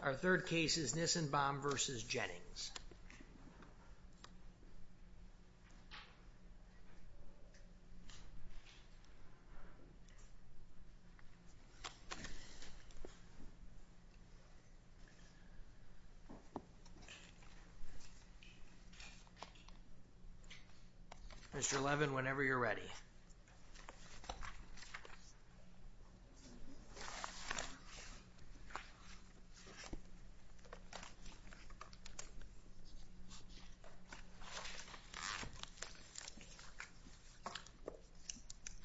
Our third case is Nissenbaum v. Jennings. Mr. Levin, whenever you're ready.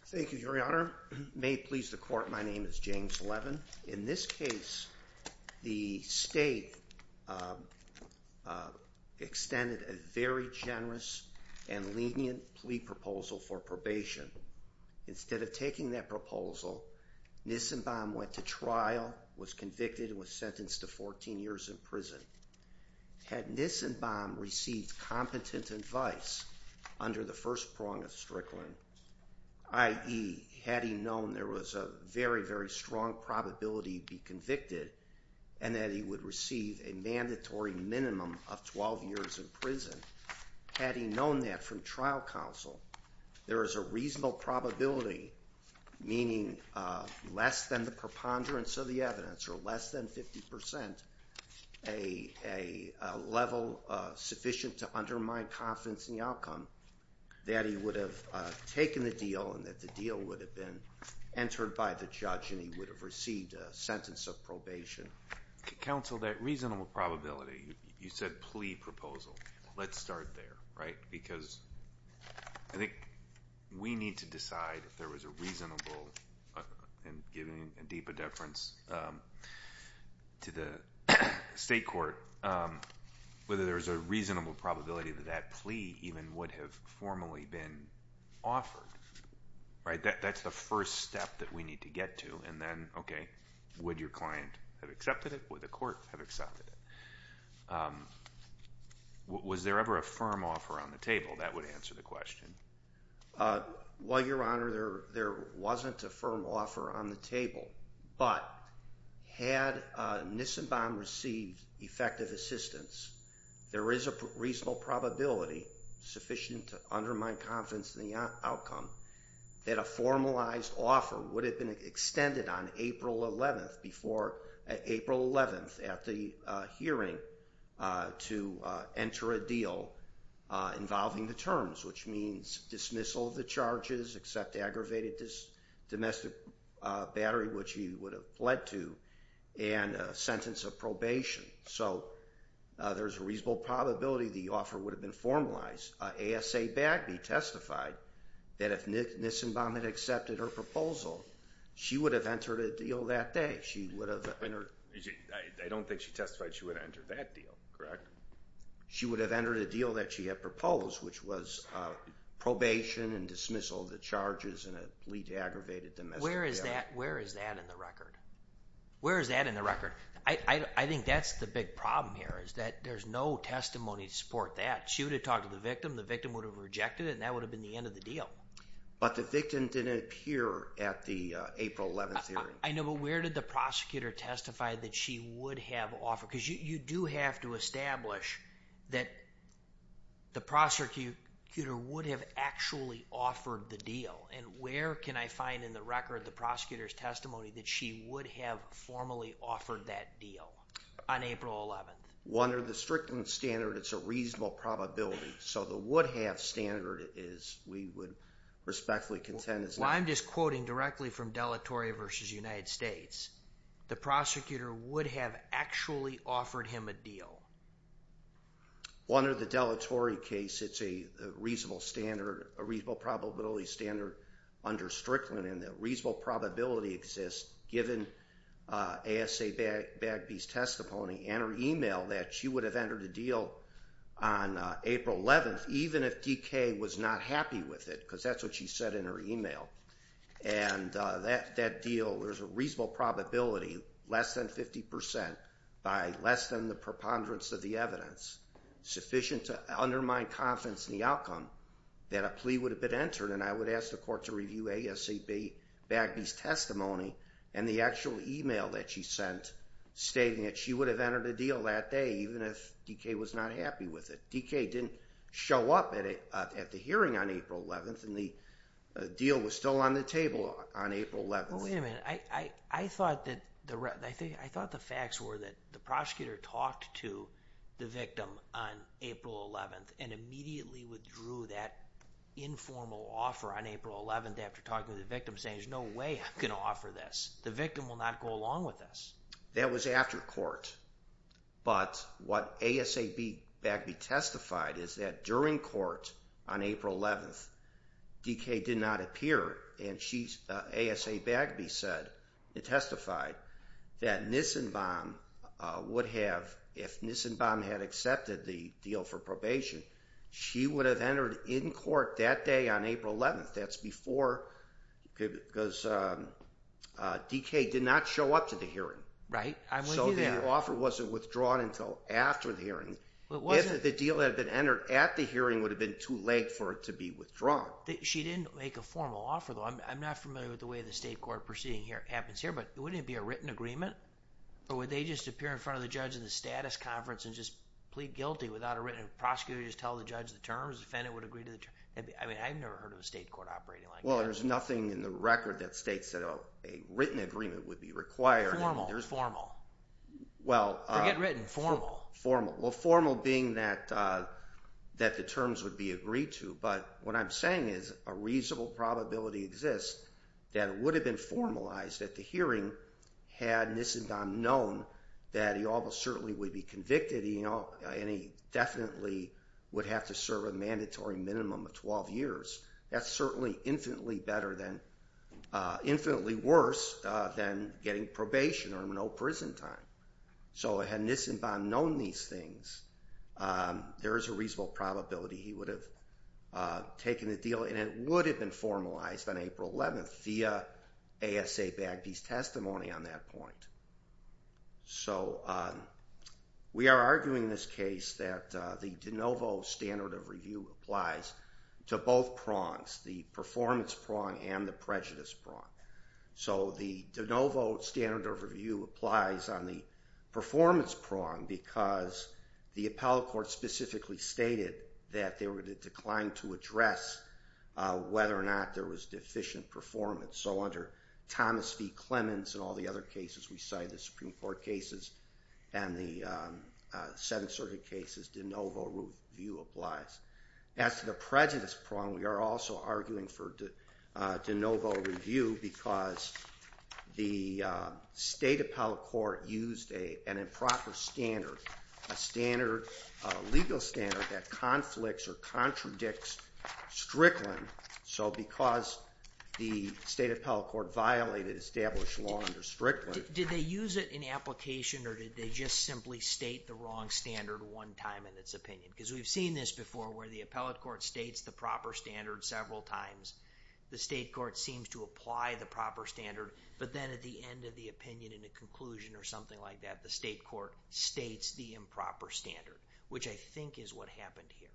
Thank you, Your Honor. May it please the court, my name is James Levin. In this case, the state extended a very generous and lenient plea proposal for probation. Instead of taking that proposal, Nissenbaum went to trial, was convicted, and was sentenced to 14 years in prison. Had Nissenbaum received competent advice under the first prong of Strickland, i.e., had he known there was a very, very strong probability he'd be convicted and that he would receive a mandatory minimum of 12 years in prison, had he known that from trial counsel, there is a reasonable probability, meaning less than the preponderance of the evidence or less than 50 percent, a level sufficient to undermine confidence in the outcome, that he would have taken the deal and that the deal would have been entered by the judge and he would have received a sentence of probation. Counsel, that reasonable probability, you said plea proposal. Let's start there, right? Because I think we need to decide if there was a reasonable, and giving a deeper deference to the state court, whether there was a reasonable probability that that plea even would have formally been offered. That's the first step that we need to get to, and then, okay, would your client have accepted it? Would the court have accepted it? Was there ever a firm offer on the table? That would answer the question. Well, Your Honor, there wasn't a firm offer on the table, but had Nissenbaum received effective assistance, there is a reasonable probability, sufficient to undermine confidence in the outcome, that a formalized offer would have been extended on April 11th at the hearing to enter a deal involving the terms, which means dismissal of the charges, accept aggravated domestic battery, which he would have pled to, and a sentence of probation. So, there's a reasonable probability the offer would have been formalized. ASA Bagby testified that if Nissenbaum had accepted her proposal, she would have entered a deal that day. I don't think she testified she would have entered that deal, correct? She would have entered a deal that she had proposed, which was probation and dismissal of the charges and a plea to aggravated domestic battery. Where is that in the record? Where is that in the record? I think that's the big problem here, is that there's no testimony to support that. She would have talked to the victim, the victim would have rejected it, and that would have been the end of the deal. But the victim didn't appear at the April 11th hearing. I know, but where did the prosecutor testify that she would have offered? Because you do have to establish that the prosecutor would have actually offered the deal. And where can I find in the record the prosecutor's testimony that she would have formally offered that deal on April 11th? Under the strictness standard, it's a reasonable probability. So, the would-have standard is we would respectfully contend it's not. I'm just quoting directly from deletory v. United States. The prosecutor would have actually offered him a deal. Under the deletory case, it's a reasonable standard, a reasonable probability standard under Strickland, and that reasonable probability exists, given ASA Bagby's testimony and her email, that she would have entered a deal on April 11th, even if DK was not happy with it, because that's what she said in her email. And that deal, there's a reasonable probability, less than 50%, by less than the preponderance of the evidence, sufficient to undermine confidence in the outcome, that a plea would have been entered. And I would ask the court to review ASA Bagby's testimony and the actual email that she sent, stating that she would have entered a deal that day, even if DK was not happy with it. DK didn't show up at the hearing on April 11th, and the deal was still on the table on April 11th. Well, wait a minute. I thought the facts were that the prosecutor talked to the victim on April 11th, and immediately withdrew that informal offer on April 11th after talking to the victim, saying, there's no way I'm going to offer this. The victim will not go along with this. That was after court. But what ASA Bagby testified is that during court on April 11th, DK did not appear, and ASA Bagby testified that Nissenbaum would have, if Nissenbaum had accepted the deal for probation, she would have entered in court that day on April 11th. That's before, because DK did not show up to the hearing. So the offer wasn't withdrawn until after the hearing. If the deal had been entered at the hearing, it would have been too late for it to be withdrawn. She didn't make a formal offer, though. I'm not familiar with the way the state court proceeding happens here, but wouldn't it be a written agreement? Or would they just appear in front of the judge in the status conference and just plead guilty without a written, prosecutors tell the judge the terms, defendant would agree to the terms? I mean, I've never heard of a state court operating like that. Well, there's nothing in the record that states that a written agreement would be required. Formal, formal. Forget written, formal. Well, formal being that the terms would be agreed to. But what I'm saying is a reasonable probability exists that it would have been formalized at the hearing had Nissenbaum known that he almost certainly would be convicted and he definitely would have to serve a mandatory minimum of 12 years. That's certainly infinitely better than, infinitely worse than getting probation or no prison time. So had Nissenbaum known these things, there is a reasonable probability he would have taken the deal and it would have been formalized on April 11th via ASA Bagby's testimony on that point. So we are arguing in this case that the de novo standard of review applies to both prongs, the performance prong and the prejudice prong. So the de novo standard of review applies on the performance prong because the appellate court specifically stated that they would decline to address whether or not there was deficient performance. So under Thomas v. Clemens and all the other cases we cite, the Supreme Court cases and the Seventh Circuit cases, de novo review applies. As to the prejudice prong, we are also arguing for de novo review because the state appellate court used an improper standard, a standard, a legal standard that conflicts or contradicts Strickland. So because the state appellate court violated established law under Strickland. Did they use it in application or did they just simply state the wrong standard one time in its opinion? Because we've seen this before where the appellate court states the proper standard several times. The state court seems to apply the proper standard but then at the end of the opinion in a conclusion or something like that, the state court states the improper standard, which I think is what happened here.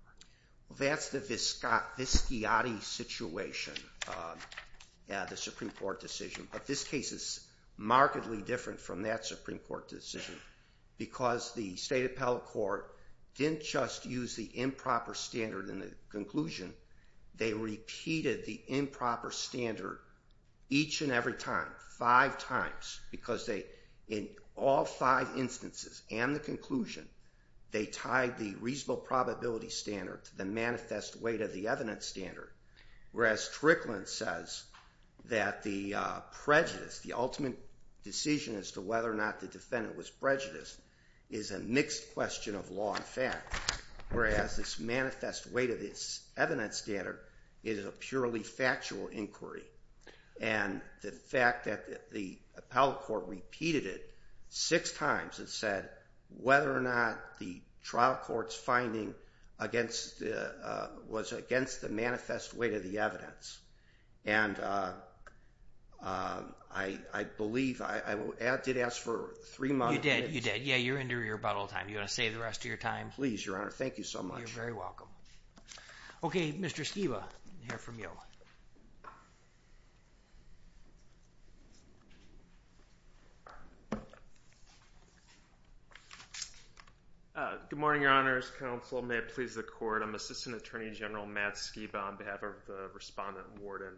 That's the Viscati situation, the Supreme Court decision. But this case is markedly different from that Supreme Court decision because the state appellate court didn't just use the improper standard in the conclusion. They repeated the improper standard each and every time, five times, because in all five instances and the conclusion, they tied the reasonable probability standard to the manifest weight of the evidence standard. Whereas Strickland says that the prejudice, the ultimate decision as to whether or not the defendant was prejudiced, is a mixed question of law and fact. Whereas this manifest weight of this evidence standard is a purely factual inquiry. And the fact that the appellate court repeated it six times and said whether or not the trial court's finding was against the manifest weight of the evidence. And I believe I did ask for three months. You did, you did. Yeah, you're in your rebuttal time. You want to save the rest of your time? Please, Your Honor. Thank you so much. You're very welcome. Okay, Mr. Skiba, we'll hear from you. Good morning, Your Honors. Counsel, may it please the court. I'm Assistant Attorney General Matt Skiba on behalf of the respondent warden.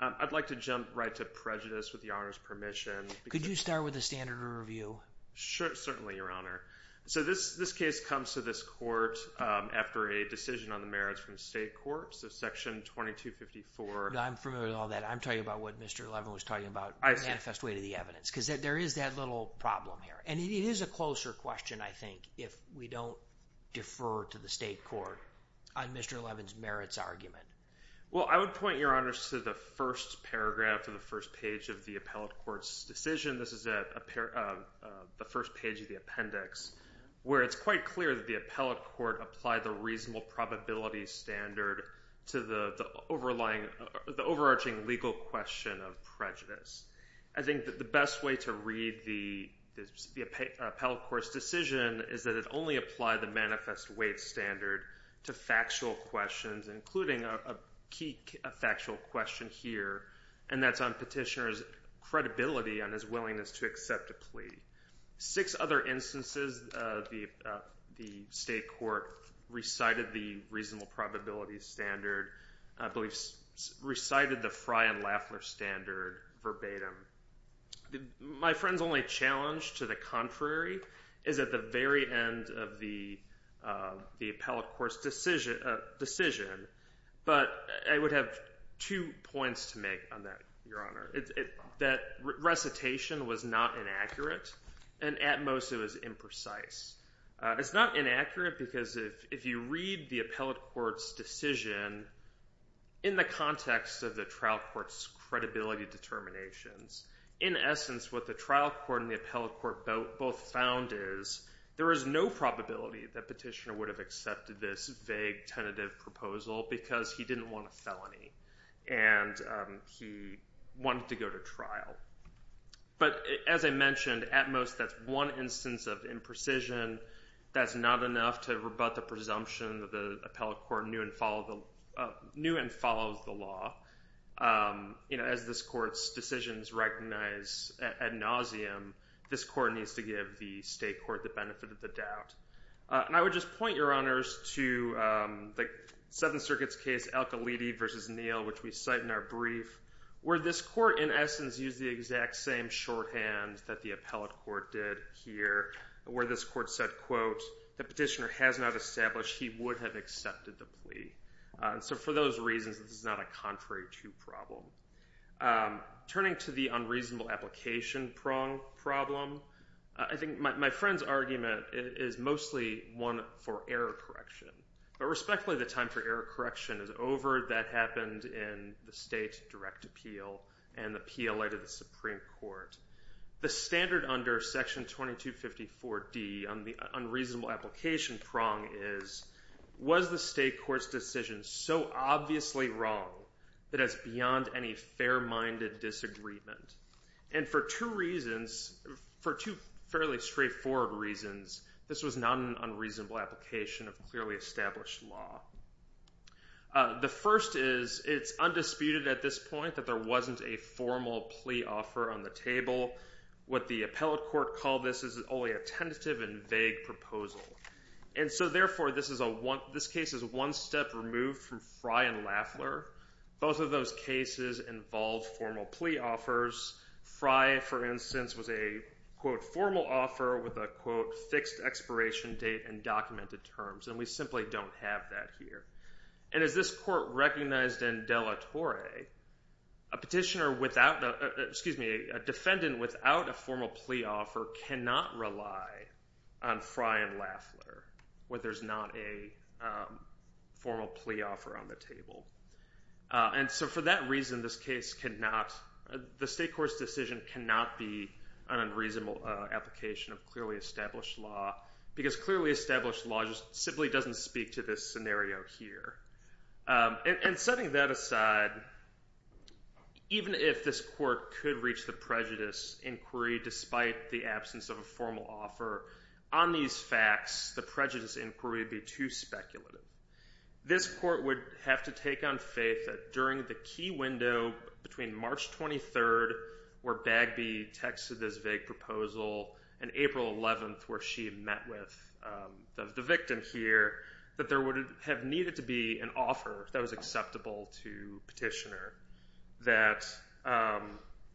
I'd like to jump right to prejudice with Your Honor's permission. Could you start with the standard review? Sure, certainly, Your Honor. So this case comes to this court after a decision on the merits from the state court. So Section 2254. I'm familiar with all that. I'm talking about what Mr. Levin was talking about, manifest weight of the evidence, because there is that little problem here. And it is a closer question, I think, if we don't defer to the state court on Mr. Levin's merits argument. Well, I would point, Your Honors, to the first paragraph or the first page of the appellate court's decision. This is the first page of the appendix where it's quite clear that the appellate court did not apply the reasonable probability standard to the overarching legal question of prejudice. I think that the best way to read the appellate court's decision is that it only applied the manifest weight standard to factual questions, including a key factual question here, and that's on petitioner's credibility and his willingness to accept a plea. Six other instances the state court recited the reasonable probability standard, I believe recited the Frey and Laffler standard verbatim. My friend's only challenge to the contrary is at the very end of the appellate court's decision, but I would have two points to make on that, Your Honor. That recitation was not inaccurate, and at most it was imprecise. It's not inaccurate because if you read the appellate court's decision in the context of the trial court's credibility determinations, in essence what the trial court and the appellate court both found is there is no probability that petitioner would have accepted this vague tentative proposal because he didn't want a felony and he wanted to go to trial. But as I mentioned, at most that's one instance of imprecision. That's not enough to rebut the presumption that the appellate court knew and followed the law. As this court's decisions recognize ad nauseum, this court needs to give the state court the benefit of the doubt. And I would just point, Your Honors, to the Seventh Circuit's case, Al-Khalidi v. Neal, which we cite in our brief, where this court in essence used the exact same shorthand that the appellate court did here, where this court said, quote, the petitioner has not established he would have accepted the plea. So for those reasons, this is not a contrary to problem. Turning to the unreasonable application prong problem, I think my friend's argument is mostly one for error correction. But respectfully, the time for error correction is over. That happened in the state direct appeal and the appeal later to the Supreme Court. The standard under Section 2254D on the unreasonable application prong is, was the state court's decision so obviously wrong that it's beyond any fair-minded disagreement? And for two reasons, for two fairly straightforward reasons, this was not an unreasonable application of clearly established law. The first is it's undisputed at this point that there wasn't a formal plea offer on the table. What the appellate court called this is only a tentative and vague proposal. And so therefore, this case is one step removed from Frye and Laffler. Both of those cases involve formal plea offers. Frye, for instance, was a, quote, formal offer with a, quote, fixed expiration date and documented terms. And we simply don't have that here. And as this court recognized in De La Torre, a petitioner without the, excuse me, a defendant without a formal plea offer cannot rely on Frye and Laffler where there's not a formal plea offer on the table. And so for that reason, this case cannot, the state court's decision cannot be an unreasonable application of clearly established law because clearly established law just simply doesn't speak to this scenario here. And setting that aside, even if this court could reach the prejudice inquiry despite the absence of a formal offer, on these facts, the prejudice inquiry would be too speculative. This court would have to take on faith that during the key window between March 23rd, where Bagby texted this vague proposal, and April 11th, where she met with the victim here, that there would have needed to be an offer that was acceptable to petitioner, that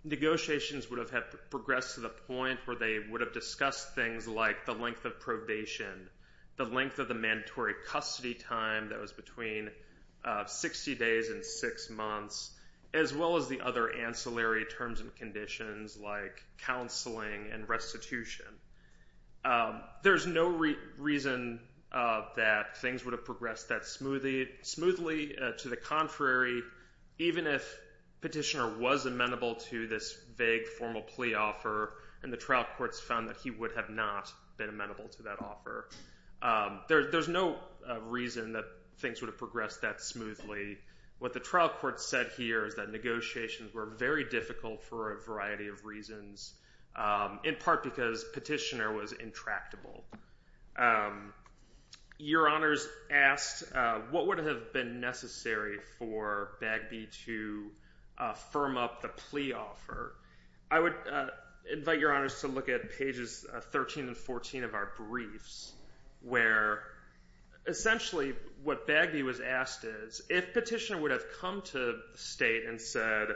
negotiations would have progressed to the point where they would have discussed things like the length of probation, the length of the mandatory custody time that was between 60 days and six months, as well as the other ancillary terms and conditions like counseling and restitution. There's no reason that things would have progressed that smoothly. To the contrary, even if petitioner was amenable to this vague formal plea offer and the trial courts found that he would have not been amenable to that offer, there's no reason that things would have progressed that smoothly. What the trial court said here is that negotiations were very difficult for a variety of reasons, in part because petitioner was intractable. Your Honors asked what would have been necessary for Bagby to firm up the plea offer. I would invite Your Honors to look at pages 13 and 14 of our briefs, where essentially what Bagby was asked is, if petitioner would have come to the state and said,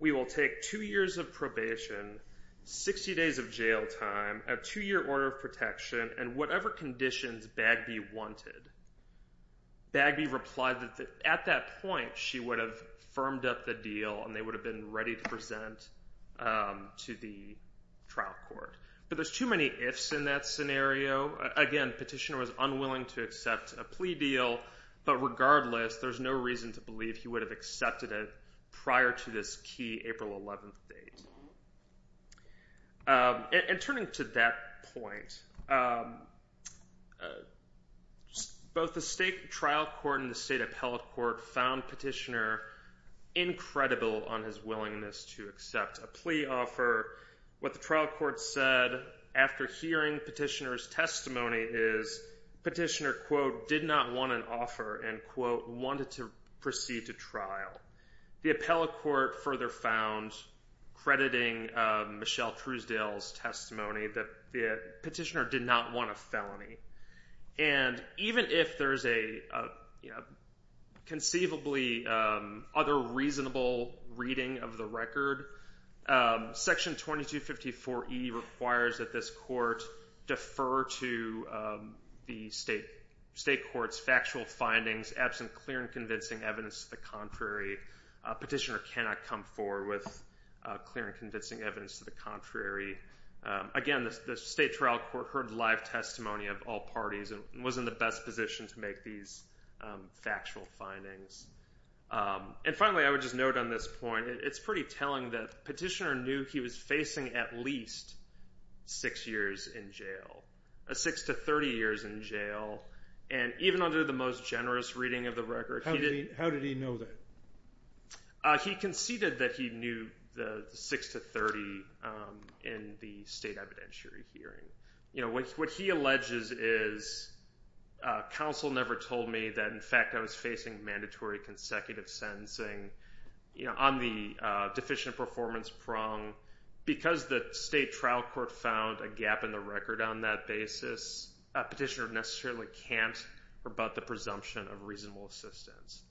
we will take two years of probation, 60 days of jail time, a two-year order of protection, and whatever conditions Bagby wanted, Bagby replied that at that point she would have firmed up the deal and they would have been ready to present to the trial court. But there's too many ifs in that scenario. Again, petitioner was unwilling to accept a plea deal, but regardless there's no reason to believe he would have accepted it prior to this key April 11th date. And turning to that point, both the state trial court and the state appellate court found petitioner incredible on his willingness to accept a plea offer. What the trial court said after hearing petitioner's testimony is petitioner, quote, did not want an offer and, quote, wanted to proceed to trial. The appellate court further found, crediting Michelle Truesdale's testimony, that the petitioner did not want a felony. And even if there's a conceivably other reasonable reading of the record, Section 2254E requires that this court defer to the state court's factual findings absent clear and convincing evidence to the contrary. Petitioner cannot come forward with clear and convincing evidence to the contrary. Again, the state trial court heard live testimony of all parties and was in the best position to make these factual findings. And finally, I would just note on this point, it's pretty telling that petitioner knew he was facing at least six years in jail, six to 30 years in jail, and even under the most generous reading of the record. How did he know that? He conceded that he knew the six to 30 in the state evidentiary hearing. What he alleges is counsel never told me that, in fact, I was facing mandatory consecutive sentencing on the deficient performance prong. Because the state trial court found a gap in the record on that basis, petitioner necessarily can't rebut the presumption of reasonable assistance.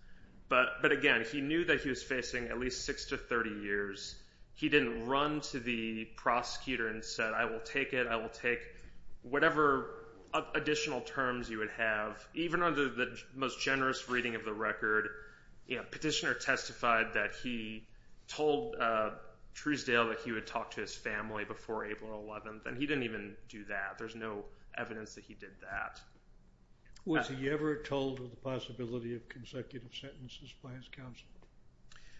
But, again, he knew that he was facing at least six to 30 years. He didn't run to the prosecutor and said, I will take it, I will take whatever additional terms you would have. Even under the most generous reading of the record, petitioner testified that he told Truesdale that he would talk to his family before April 11th, and he didn't even do that. There's no evidence that he did that. Was he ever told of the possibility of consecutive sentences by his counsel?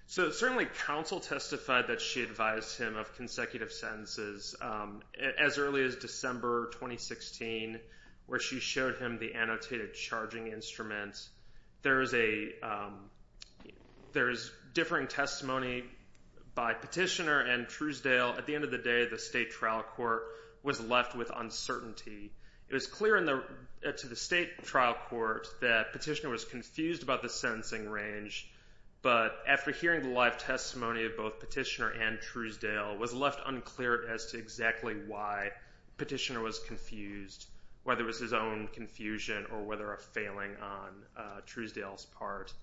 Certainly, counsel testified that she advised him of consecutive sentences as early as December 2016, where she showed him the annotated charging instruments. There is differing testimony by petitioner and Truesdale. At the end of the day, the state trial court was left with uncertainty. It was clear to the state trial court that petitioner was confused about the sentencing range, but after hearing the live testimony of both petitioner and Truesdale, it was left unclear as to exactly why petitioner was confused, whether it was his own confusion or whether a failing on Truesdale's part.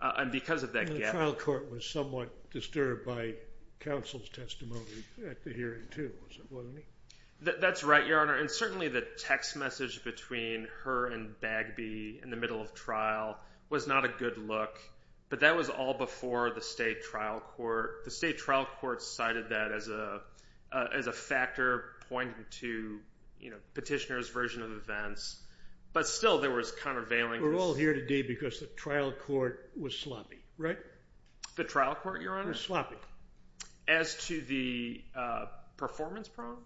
And because of that gap. The trial court was somewhat disturbed by counsel's testimony at the hearing, too, wasn't he? That's right, Your Honor, and certainly the text message between her and Bagby in the middle of trial was not a good look, but that was all before the state trial court. The state trial court cited that as a factor pointing to petitioner's version of events, but still there was kind of veiling. We're all here today because the trial court was sloppy, right? The trial court, Your Honor? It was sloppy. As to the performance problem?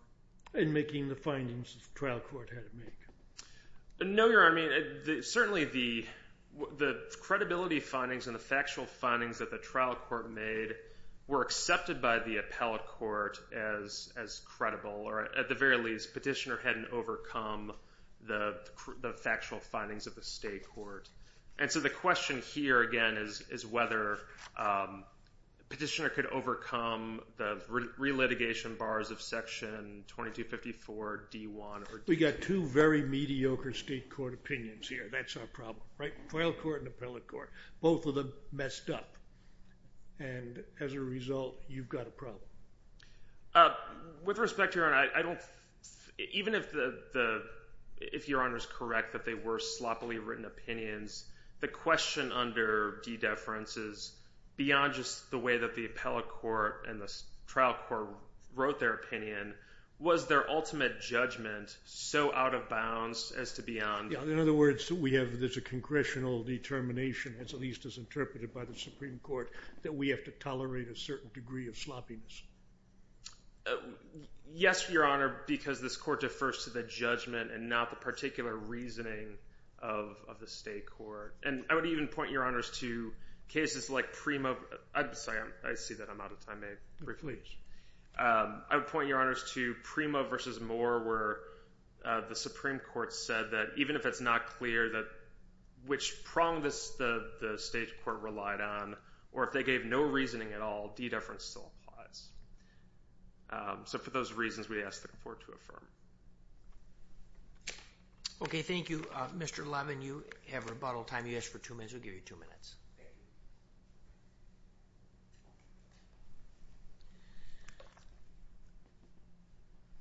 In making the findings the trial court had to make. No, Your Honor. I mean, certainly the credibility findings and the factual findings that the trial court made were accepted by the appellate court as credible, or at the very least petitioner hadn't overcome the factual findings of the state court. And so the question here, again, is whether petitioner could overcome the re-litigation bars of Section 2254-D1. We've got two very mediocre state court opinions here. That's our problem, right? Trial court and appellate court, both of them messed up. And as a result, you've got a problem. With respect, Your Honor, even if Your Honor is correct that they were sloppily written opinions, the question under de-deference is beyond just the way that the appellate court and the trial court wrote their opinion, was their ultimate judgment so out of bounds as to beyond? In other words, we have this congressional determination, at least as interpreted by the Supreme Court, that we have to tolerate a certain degree of sloppiness. Yes, Your Honor, because this court defers to the judgment and not the particular reasoning of the state court. And I would even point, Your Honors, to cases like Primo. I'm sorry. I see that I'm out of time. It reflects. I would point, Your Honors, to Primo v. Moore where the Supreme Court said that even if it's not clear that which prong the state court relied on or if they gave no reasoning at all, de-deference still applies. So for those reasons, we ask the court to affirm. Okay, thank you. Mr. Levin, you have rebuttal time. You asked for two minutes. We'll give you two minutes.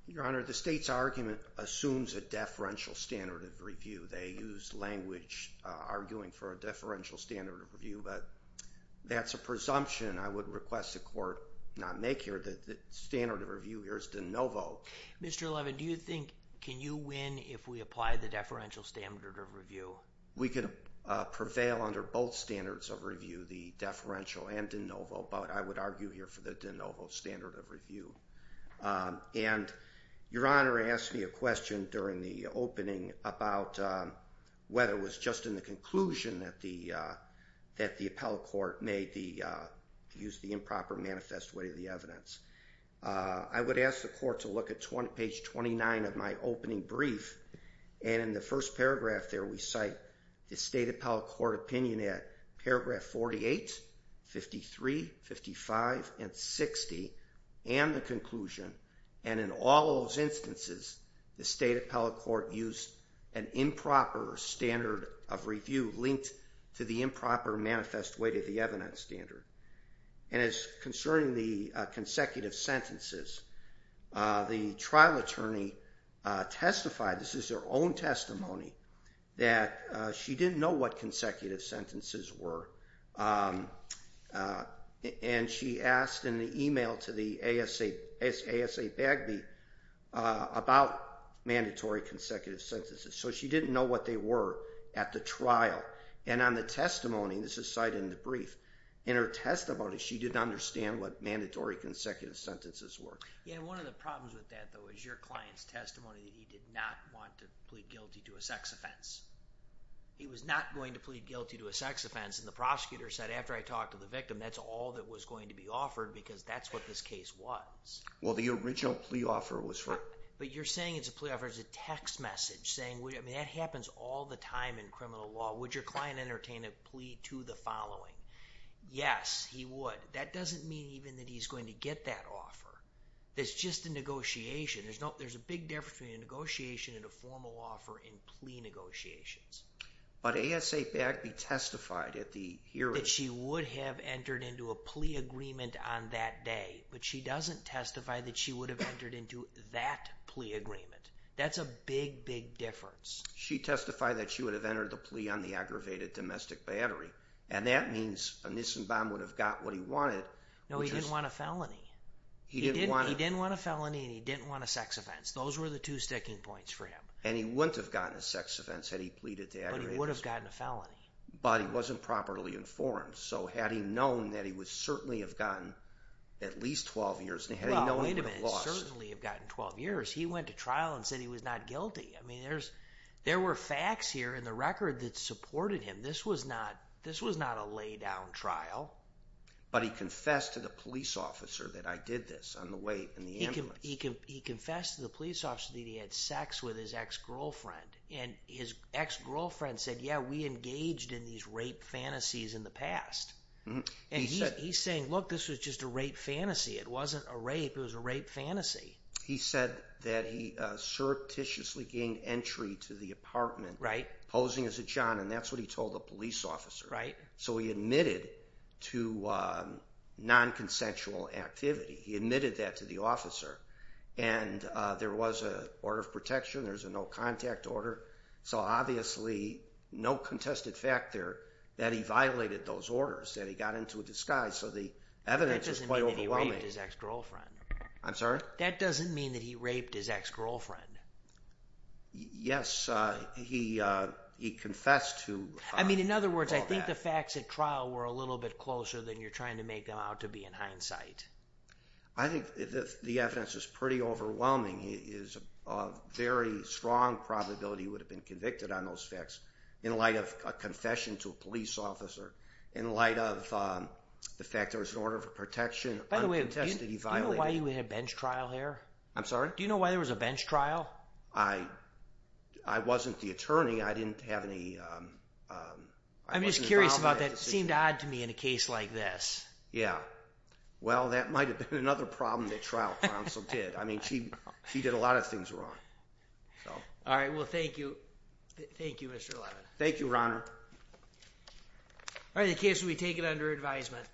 Your Honor, the state's argument assumes a deferential standard of review. They use language arguing for a deferential standard of review, but that's a presumption I would request the court not make here. The standard of review here is de novo. Mr. Levin, do you think, can you win if we apply the deferential standard of review? We could prevail under both standards of review, the deferential and de novo, but I would argue here for the de novo standard of review. And Your Honor asked me a question during the opening about whether it was just in the conclusion that the appellate court used the improper manifest way of the evidence. I would ask the court to look at page 29 of my opening brief, and in the first paragraph there, we cite the state appellate court opinion at paragraph 48, 53, 55, and 60, and the conclusion. And in all those instances, the state appellate court used an improper standard of review linked to the improper manifest way to the evidence standard. And as concerning the consecutive sentences, the trial attorney testified, this is her own testimony, that she didn't know what consecutive sentences were. And she asked in the email to the ASA Bagby about mandatory consecutive sentences, so she didn't know what they were at the trial. And on the testimony, this is cited in the brief, in her testimony, she didn't understand what mandatory consecutive sentences were. Yeah, and one of the problems with that, though, is your client's testimony that he did not want to plead guilty to a sex offense. He was not going to plead guilty to a sex offense, and the prosecutor said, after I talked to the victim, that's all that was going to be offered because that's what this case was. Well, the original plea offer was for... But you're saying it's a plea offer as a text message, saying, I mean, that happens all the time in criminal law. Would your client entertain a plea to the following? Yes, he would. That doesn't mean even that he's going to get that offer. That's just a negotiation. There's a big difference between a negotiation and a formal offer in plea negotiations. But ASA Bagby testified at the hearing... ...that she would have entered into a plea agreement on that day, but she doesn't testify that she would have entered into that plea agreement. That's a big, big difference. She testified that she would have entered the plea on the aggravated domestic battery, and that means Nissenbaum would have got what he wanted. No, he didn't want a felony. He didn't want a felony and he didn't want a sex offense. Those were the two sticking points for him. And he wouldn't have gotten a sex offense had he pleaded to aggravated domestic battery. But he would have gotten a felony. But he wasn't properly informed. So had he known that he would certainly have gotten at least 12 years... Well, wait a minute. Certainly have gotten 12 years. He went to trial and said he was not guilty. I mean, there were facts here in the record that supported him. This was not a lay-down trial. But he confessed to the police officer that I did this on the way in the ambulance. He confessed to the police officer that he had sex with his ex-girlfriend. And his ex-girlfriend said, yeah, we engaged in these rape fantasies in the past. And he's saying, look, this was just a rape fantasy. It wasn't a rape. It was a rape fantasy. He said that he surreptitiously gained entry to the apartment, posing as a John, and that's what he told the police officer. So he admitted to non-consensual activity. He admitted that to the officer. And there was an order of protection. There was a no-contact order. So obviously, no contested fact there that he violated those orders, that he got into a disguise. So the evidence is quite overwhelming. That doesn't mean that he raped his ex-girlfriend. I'm sorry? That doesn't mean that he raped his ex-girlfriend. Yes, he confessed to all that. I mean, in other words, I think the facts at trial were a little bit closer than you're trying to make them out to be in hindsight. I think the evidence is pretty overwhelming. There's a very strong probability he would have been convicted on those facts in light of a confession to a police officer, in light of the fact there was an order of protection. By the way, do you know why you had a bench trial here? I'm sorry? Do you know why there was a bench trial? I wasn't the attorney. I didn't have any involvement in that decision. I'm just curious about that. It seemed odd to me in a case like this. Yeah. Well, that might have been another problem that trial counsel did. I mean, she did a lot of things wrong. All right. Well, thank you. Thank you, Mr. Levin. Thank you, Your Honor. All right. The case will be taken under advisement.